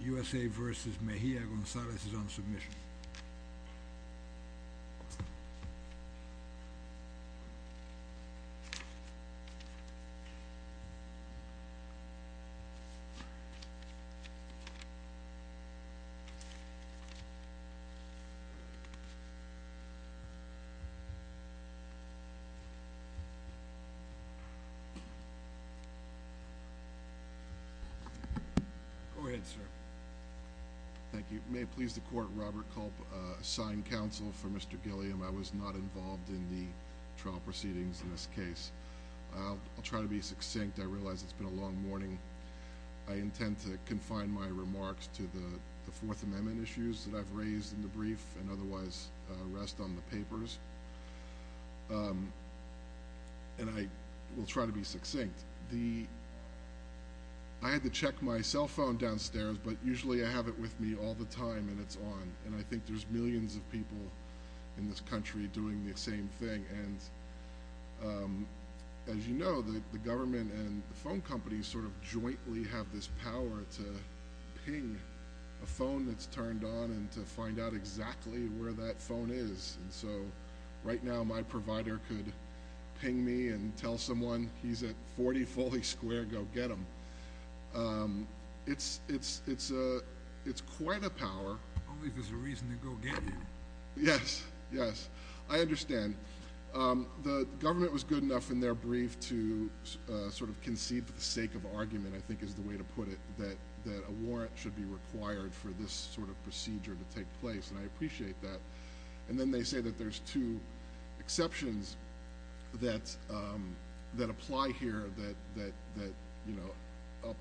U.S.A. v. Mejia-Gonzalez is on submission. Go ahead, sir. Thank you. May it please the Court, Robert Culp, Assigned Counsel for Mr. Gilliam. I was not involved in the trial proceedings in this case. I'll try to be succinct, I realize it's been a long morning. I intend to confine my remarks to the Fourth Amendment issues that I've raised in the brief and otherwise rest on the papers. And I will try to be succinct. I had to check my cell phone downstairs, but usually I have it with me all the time and it's on. And I think there's millions of people in this country doing the same thing. And as you know, the government and the phone companies sort of jointly have this power to ping a phone that's turned on and to find out exactly where that phone is. And so right now my provider could ping me and tell someone, he's at 40 Foley Square, go get him. It's quite a power. Only if there's a reason to go get him. Yes, yes. I understand. The government was good enough in their brief to sort of concede for the sake of argument, I think is the way to put it, that a warrant should be required for this sort of procedure to take place. And I appreciate that. And then they say that there's two exceptions that apply here that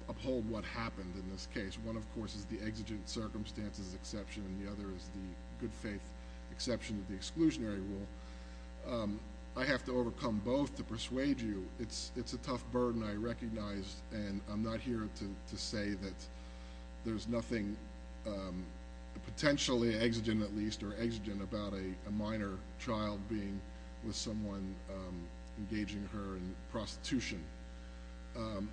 uphold what happened in this case. One, of course, is the exigent circumstances exception and the other is the good faith exception of the exclusionary rule. I have to overcome both to persuade you. It's a tough burden I recognize and I'm not here to say that there's nothing potentially exigent at least or exigent about a minor child being with someone engaging her in prostitution.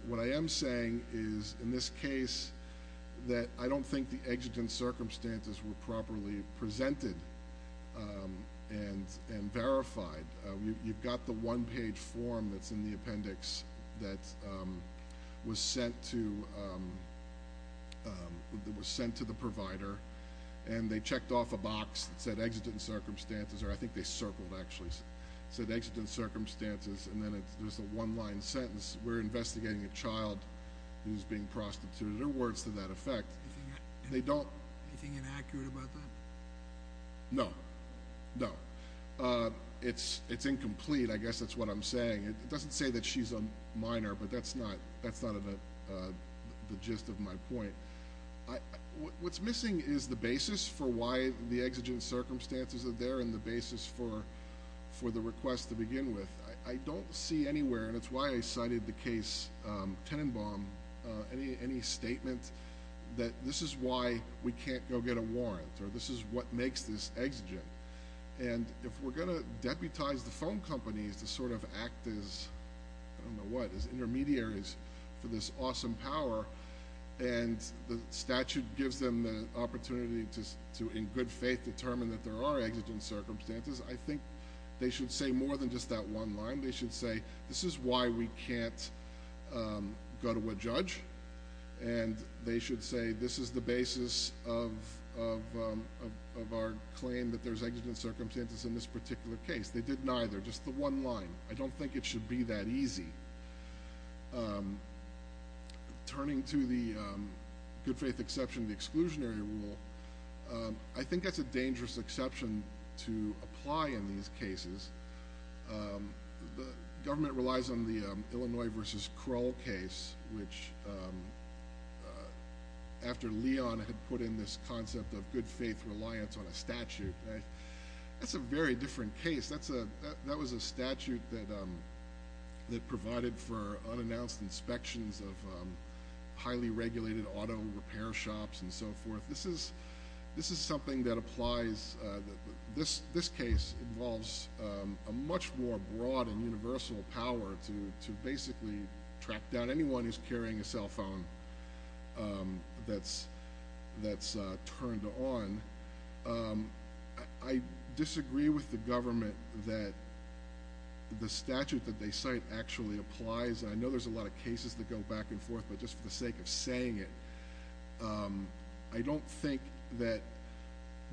What I am saying is in this case that I don't think the exigent circumstances were properly presented and verified. You've got the one-page form that's in the appendix that was sent to the provider and they checked off a box that said exigent circumstances or I think they circled actually, said exigent circumstances and then there's a one-line sentence, we're investigating a child who's being prostituted or words to that effect. They don't... Anything inaccurate about that? No. No. No. No. No. It's incomplete. I guess that's what I'm saying. It doesn't say that she's a minor but that's not the gist of my point. What's missing is the basis for why the exigent circumstances are there and the basis for the request to begin with. I don't see anywhere and it's why I cited the case Tenenbaum, any statement that this is why we can't go get a warrant or this is what makes this exigent and if we're going to deputize the phone companies to sort of act as, I don't know what, as intermediaries for this awesome power and the statute gives them the opportunity to in good faith determine that there are exigent circumstances, I think they should say more than just that one line. They should say this is why we can't go to a judge and they should say this is the basis of our claim that there's exigent circumstances in this particular case. They did neither. Just the one line. I don't think it should be that easy. Turning to the good faith exception, the exclusionary rule, I think that's a dangerous exception to apply in these cases. The government relies on the Illinois versus Kroll case, which after Leon had put in this concept of good faith reliance on a statute, that's a very different case. That was a statute that provided for unannounced inspections of highly regulated auto repair shops and so forth. This is something that applies, this case involves a much more broad and universal power to basically track down anyone who's carrying a cell phone that's turned on. I disagree with the government that the statute that they cite actually applies. I know there's a lot of cases that go back and forth, but just for the sake of saying it, I don't think that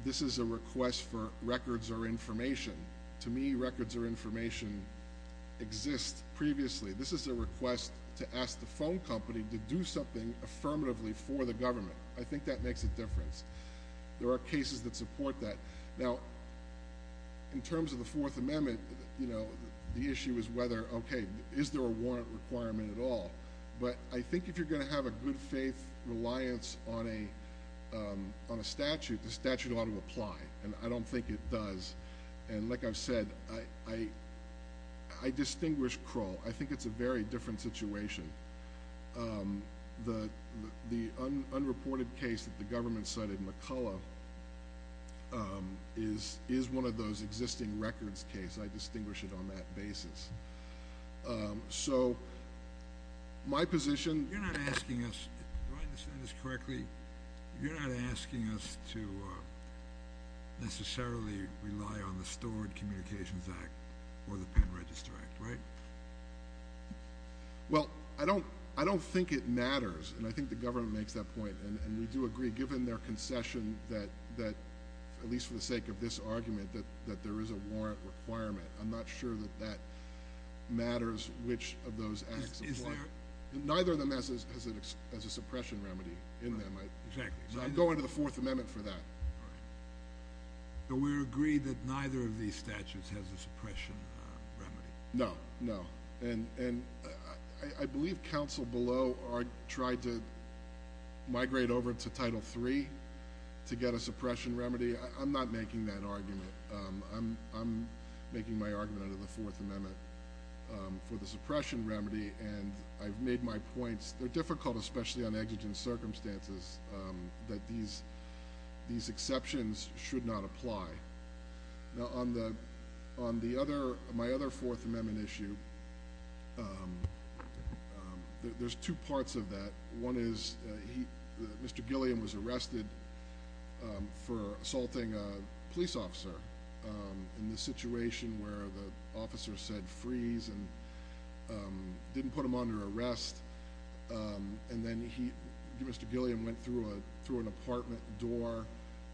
this is a request for records or information. To me, records or information exist previously. This is a request to ask the phone company to do something affirmatively for the government. I think that makes a difference. There are cases that support that. In terms of the Fourth Amendment, the issue is whether, okay, is there a warrant requirement at all? I think if you're going to have a good faith reliance on a statute, the statute ought to apply. I don't think it does. Like I've said, I distinguish Kroll. I think it's a very different situation. The unreported case that the government cited McCullough is one of those existing records cases. I distinguish it on that basis. My position— You're not asking us—do I understand this correctly? You're not asking us to necessarily rely on the Stored Communications Act or the Penn Register Act, right? Well, I don't think it matters. I think the government makes that point, and we do agree, given their concession that, at least for the sake of this argument, that there is a warrant requirement. I'm not sure that that matters, which of those acts apply. Is there— Neither of them has a suppression remedy in them. Exactly. I'm going to the Fourth Amendment for that. All right. So we're agreed that neither of these statutes has a suppression remedy? No. No. And I believe counsel below tried to migrate over to Title III to get a suppression remedy. I'm not making that argument. I'm making my argument under the Fourth Amendment for the suppression remedy, and I've made my points. They're difficult, especially on exigent circumstances, that these exceptions should not apply. Now, on the other—my other Fourth Amendment issue, there's two parts of that. One is Mr. Gilliam was arrested for assaulting a police officer in the situation where the officer said, freeze, and didn't put him under arrest. And then Mr. Gilliam went through an apartment door,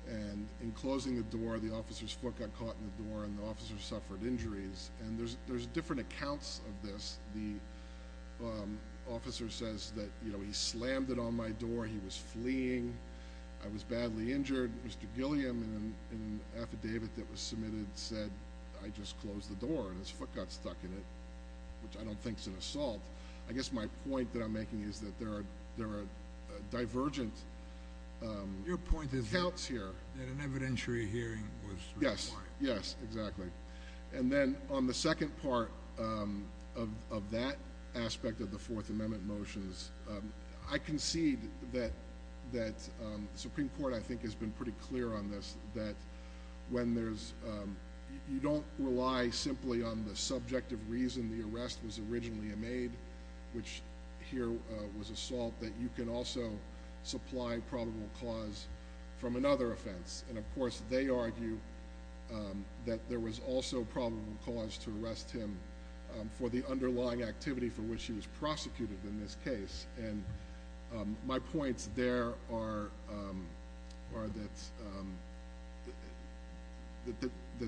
and in closing the door, the officer's foot got caught in the door, and the officer suffered injuries. And there's different accounts of this. The officer says that, you know, he slammed it on my door. He was fleeing. I was badly injured. Mr. Gilliam, in an affidavit that was submitted, said, I just closed the door, and his foot got stuck in it, which I don't think's an assault. I guess my point that I'm making is that there are divergent accounts here. Your point is that an evidentiary hearing was required. Yes. Yes, exactly. And then on the second part of that aspect of the Fourth Amendment motions, I concede that the Supreme Court, I think, has been pretty clear on this, that when there's—you don't rely simply on the subjective reason the arrest was originally made, which here was assault, that you can also supply probable cause from another offense. And, of course, they argue that there was also probable cause to arrest him for the underlying activity for which he was prosecuted in this case. And my points there are that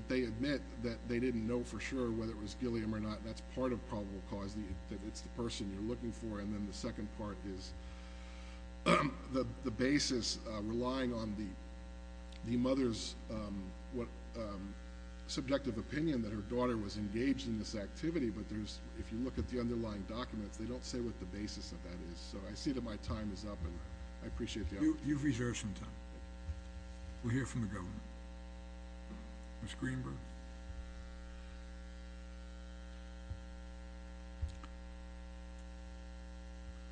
they admit that they didn't know for sure whether it was Gilliam or not. That's part of probable cause, that it's the person you're looking for. And then the second part is the basis relying on the mother's subjective opinion that her daughter was engaged in this activity. But if you look at the underlying documents, they don't say what the basis of that is. So I see that my time is up, and I appreciate the opportunity. You've reserved some time. We'll hear from the government. Ms. Greenberg.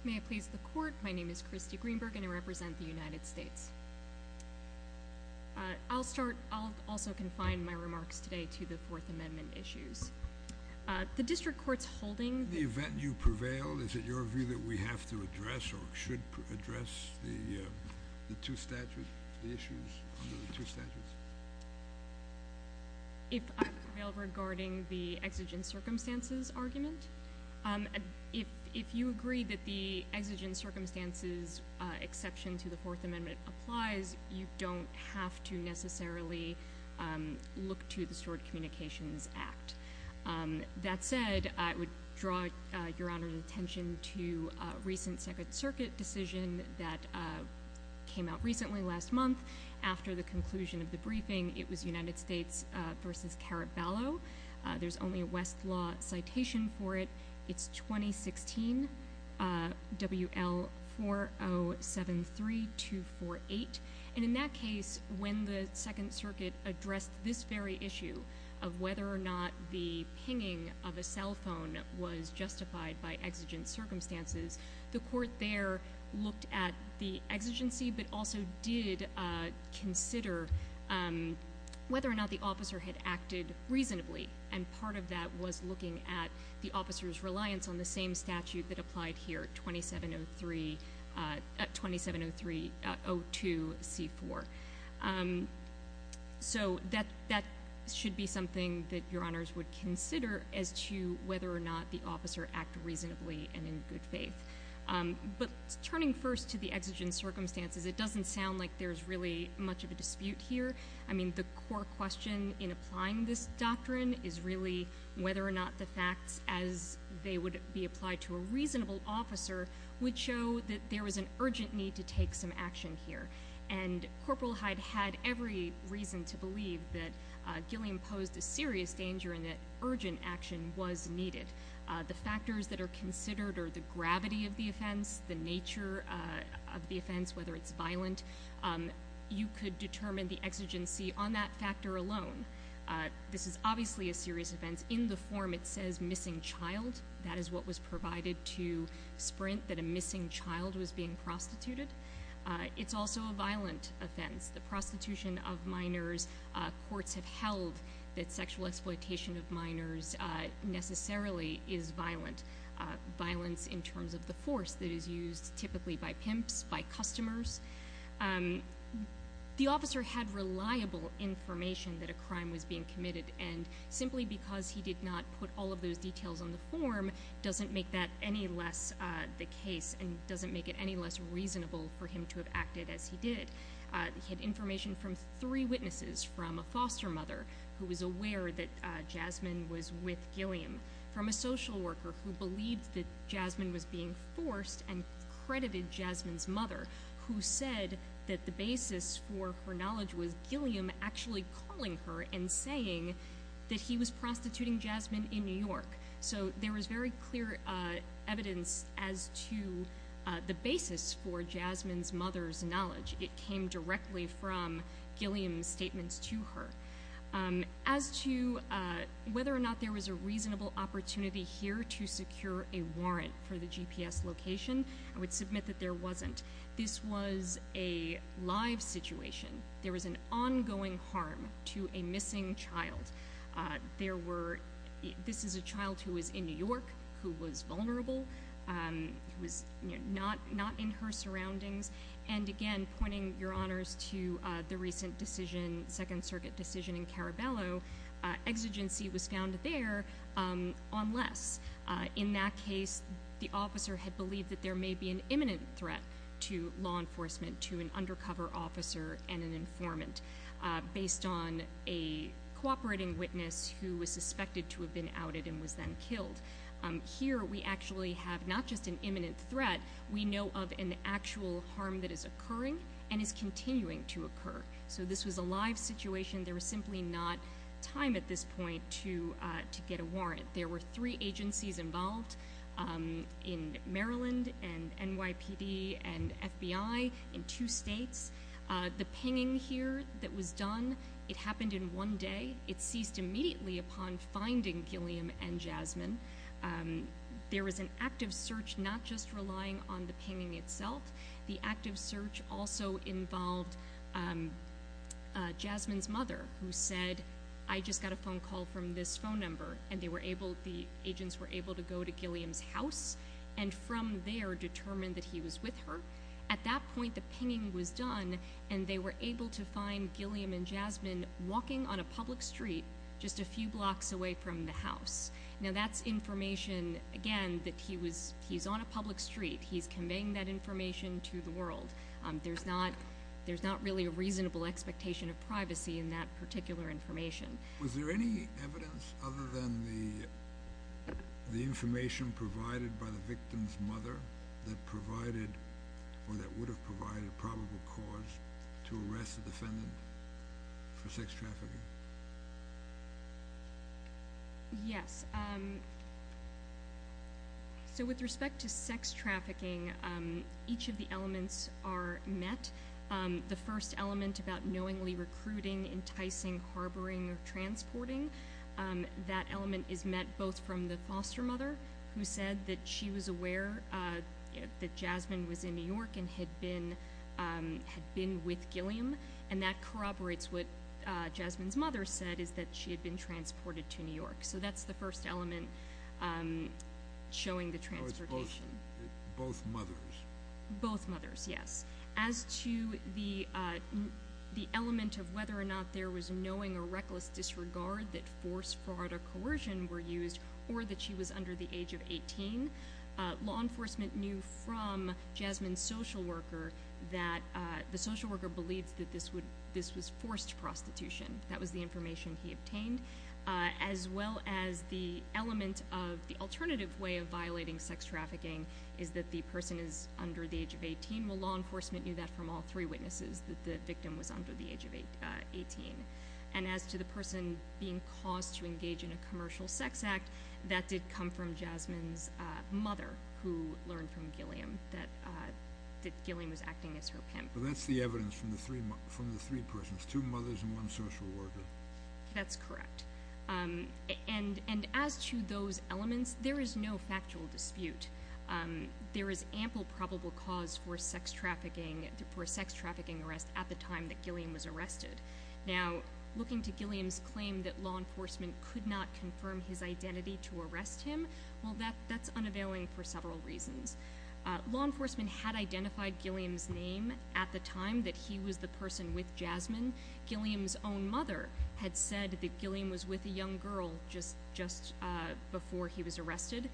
May I please the Court? My name is Christy Greenberg, and I represent the United States. I'll start—I'll also confine my remarks today to the Fourth Amendment issues. The district court's holding— The event you prevail, is it your view that we have to address or should address the two statute—the issues under the two statutes? If I prevail regarding the exigent circumstances argument? If you agree that the exigent circumstances exception to the Fourth Amendment applies, you don't have to necessarily look to the Stored Communications Act. That said, I would draw Your Honor's attention to a recent Second Circuit decision that came out recently, last month, after the conclusion of the briefing. It was United States v. Caraballo. There's only a Westlaw citation for it. It's 2016, WL-4073-248. And in that case, when the Second Circuit addressed this very issue of whether or not the pinging of a cell phone was justified by exigent circumstances, the Court there looked at the exigency, but also did consider whether or not the officer had acted reasonably. And part of that was looking at the officer's reliance on the same statute that applied here, 2703—2703-02-C-4. So that should be something that Your Honors would consider as to whether or not the officer acted reasonably and in good faith. But turning first to the exigent circumstances, it doesn't sound like there's really much of a dispute here. I mean, the core question in applying this doctrine is really whether or not the facts as they would be applied to a reasonable officer would show that there was an urgent need to take some action here. And Corporal Hyde had every reason to believe that Gilliam posed a serious danger and that urgent action was needed. The factors that are considered are the gravity of the offense, the nature of the offense, whether it's violent. You could determine the exigency on that factor alone. This is obviously a serious offense. In the form, it says missing child. That is what was provided to Sprint, that a missing child was being prostituted. It's also a violent offense. The prostitution of minors, courts have held that sexual exploitation of minors necessarily is violent. Violence in terms of the force that is used typically by pimps, by customers. The officer had reliable information that a crime was being committed. And simply because he did not put all of those details on the form doesn't make that any less the case and doesn't make it any less reasonable for him to have acted as he did. He had information from three witnesses, from a foster mother who was aware that Jasmine was with Gilliam, from a social worker who believed that Jasmine was being forced and credited Jasmine's mother, who said that the basis for her knowledge was Gilliam actually calling her and saying that he was prostituting Jasmine in New York. So there was very clear evidence as to the basis for Jasmine's mother's knowledge. It came directly from Gilliam's statements to her. As to whether or not there was a reasonable opportunity here to secure a warrant for the GPS location, I would submit that there wasn't. This was a live situation. There was an ongoing harm to a missing child. This is a child who was in New York, who was vulnerable, who was not in her surroundings. And again, pointing your honors to the recent decision, Second Circuit decision in Caraballo, exigency was found there unless, in that case, the officer had believed that there may be an imminent threat to law enforcement, to an undercover officer and an informant, based on a cooperating witness who was suspected to have been outed and was then killed. Here we actually have not just an imminent threat. We know of an actual harm that is occurring and is continuing to occur. So this was a live situation. There was simply not time at this point to get a warrant. There were three agencies involved in Maryland and NYPD and FBI in two states. The pinging here that was done, it happened in one day. It ceased immediately upon finding Gilliam and Jasmine. There was an active search not just relying on the pinging itself. The active search also involved Jasmine's mother, who said, I just got a phone call from this phone number. And they were able, the agents were able to go to Gilliam's house and from there determine that he was with her. At that point, the pinging was done, and they were able to find Gilliam and Jasmine walking on a public street just a few blocks away from the house. Now that's information, again, that he's on a public street. He's conveying that information to the world. There's not really a reasonable expectation of privacy in that particular information. Was there any evidence other than the information provided by the victim's mother that provided or that would have provided a probable cause to arrest a defendant for sex trafficking? Yes. So with respect to sex trafficking, each of the elements are met. The first element about knowingly recruiting, enticing, harboring, or transporting, that element is met both from the foster mother, who said that she was aware that Jasmine was in New York and had been with Gilliam, and that corroborates what Jasmine's mother said, is that she had been transported to New York. So that's the first element showing the transportation. Oh, it's both mothers. Both mothers, yes. As to the element of whether or not there was knowing or reckless disregard that forced fraud or coercion were used or that she was under the age of 18, law enforcement knew from Jasmine's social worker that the social worker believed that this was forced prostitution. That was the information he obtained. As well as the element of the alternative way of violating sex trafficking is that the person is under the age of 18. Well, law enforcement knew that from all three witnesses, that the victim was under the age of 18. And as to the person being caused to engage in a commercial sex act, that did come from Jasmine's mother, who learned from Gilliam that Gilliam was acting as her pimp. So that's the evidence from the three persons, two mothers and one social worker. That's correct. And as to those elements, there is no factual dispute. There is ample probable cause for a sex trafficking arrest at the time that Gilliam was arrested. Now, looking to Gilliam's claim that law enforcement could not confirm his identity to arrest him, well, that's unavailing for several reasons. Law enforcement had identified Gilliam's name at the time that he was the person with Jasmine. Gilliam's own mother had said that Gilliam was with a young girl just before he was arrested.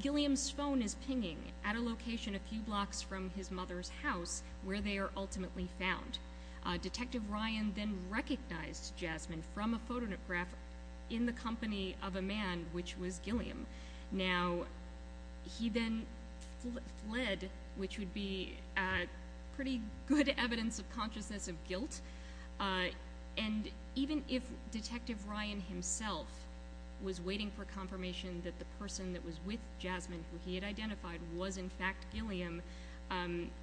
Gilliam's phone is pinging at a location a few blocks from his mother's house, where they are ultimately found. Detective Ryan then recognized Jasmine from a photograph in the company of a man, which was Gilliam. Now, he then fled, which would be pretty good evidence of consciousness of guilt. And even if Detective Ryan himself was waiting for confirmation that the person that was with Jasmine, who he had identified, was in fact Gilliam,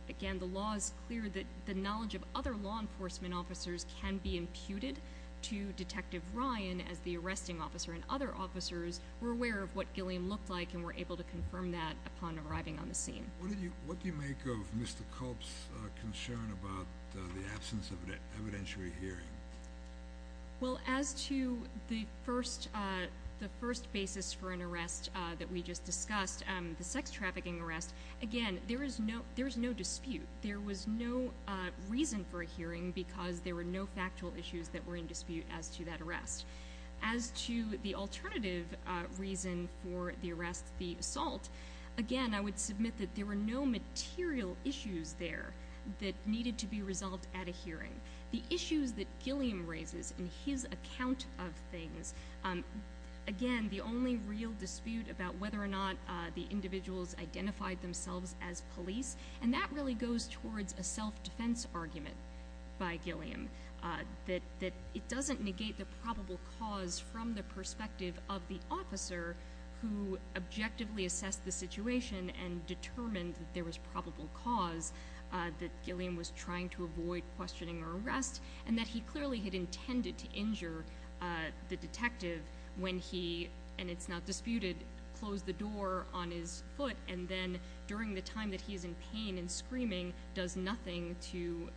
again, the law is clear that the knowledge of other law enforcement officers can be imputed to Detective Ryan as the arresting officer, and other officers were aware of what Gilliam looked like and were able to confirm that upon arriving on the scene. What do you make of Mr. Kolb's concern about the absence of an evidentiary hearing? Well, as to the first basis for an arrest that we just discussed, the sex trafficking arrest, again, there is no dispute. There was no reason for a hearing because there were no factual issues that were in dispute as to that arrest. As to the alternative reason for the arrest, the assault, again, I would submit that there were no material issues there that needed to be resolved at a hearing. The issues that Gilliam raises in his account of things, again, the only real dispute about whether or not the individuals identified themselves as police, and that really goes towards a self-defense argument by Gilliam, that it doesn't negate the probable cause from the perspective of the officer who objectively assessed the situation and determined that there was probable cause, that Gilliam was trying to avoid questioning or arrest, and that he clearly had intended to injure the detective when he, and it's not disputed, closed the door on his foot and then, during the time that he's in pain and screaming, does nothing to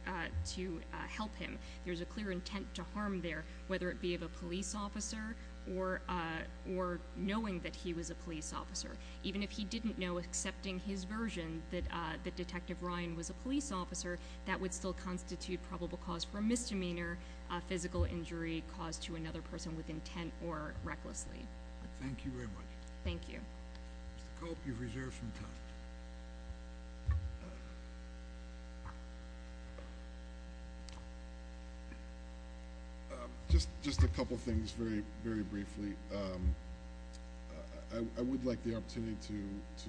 help him. There's a clear intent to harm there, whether it be of a police officer or knowing that he was a police officer. Even if he didn't know, accepting his version, that Detective Ryan was a police officer, that would still constitute probable cause for a misdemeanor, a physical injury caused to another person with intent or recklessly. Thank you very much. Thank you. Mr. Culp, you've reserved some time. Just a couple things very briefly. I would like the opportunity to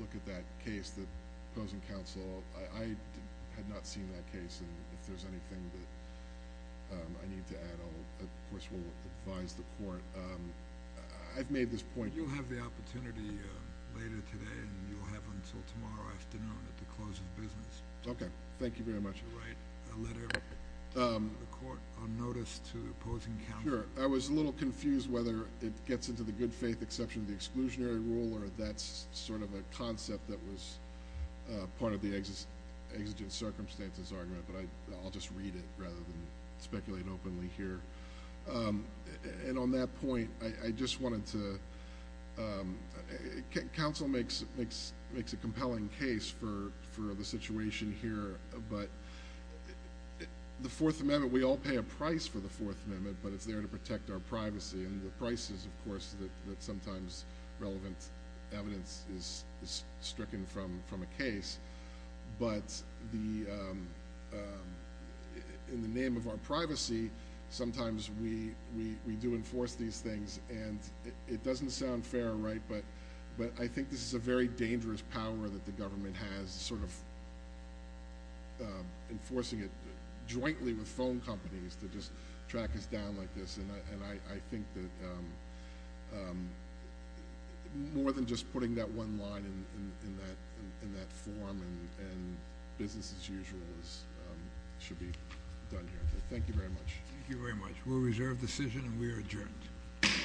look at that case, the opposing counsel. I had not seen that case, and if there's anything that I need to add, of course, we'll advise the court. I've made this point. You'll have the opportunity later today, and you'll have until tomorrow afternoon at the close of business. Okay. Thank you very much. You'll write a letter to the court on notice to opposing counsel. Sure. I was a little confused whether it gets into the good faith exception of the exclusionary rule, or that's sort of a concept that was part of the exigent circumstances argument, but I'll just read it rather than speculate openly here. And on that point, I just wanted to counsel makes a compelling case for the situation here, but the Fourth Amendment, we all pay a price for the Fourth Amendment, but it's there to protect our privacy, and the price is, of course, that sometimes relevant evidence is stricken from a case, but in the name of our privacy, sometimes we do enforce these things, and it doesn't sound fair, right, but I think this is a very dangerous power that the government has, sort of enforcing it jointly with phone companies to just track us down like this, and I think that more than just putting that one line in that form and business as usual should be done here. Thank you very much. Thank you very much. We'll reserve the decision, and we are adjourned. Court is adjourned.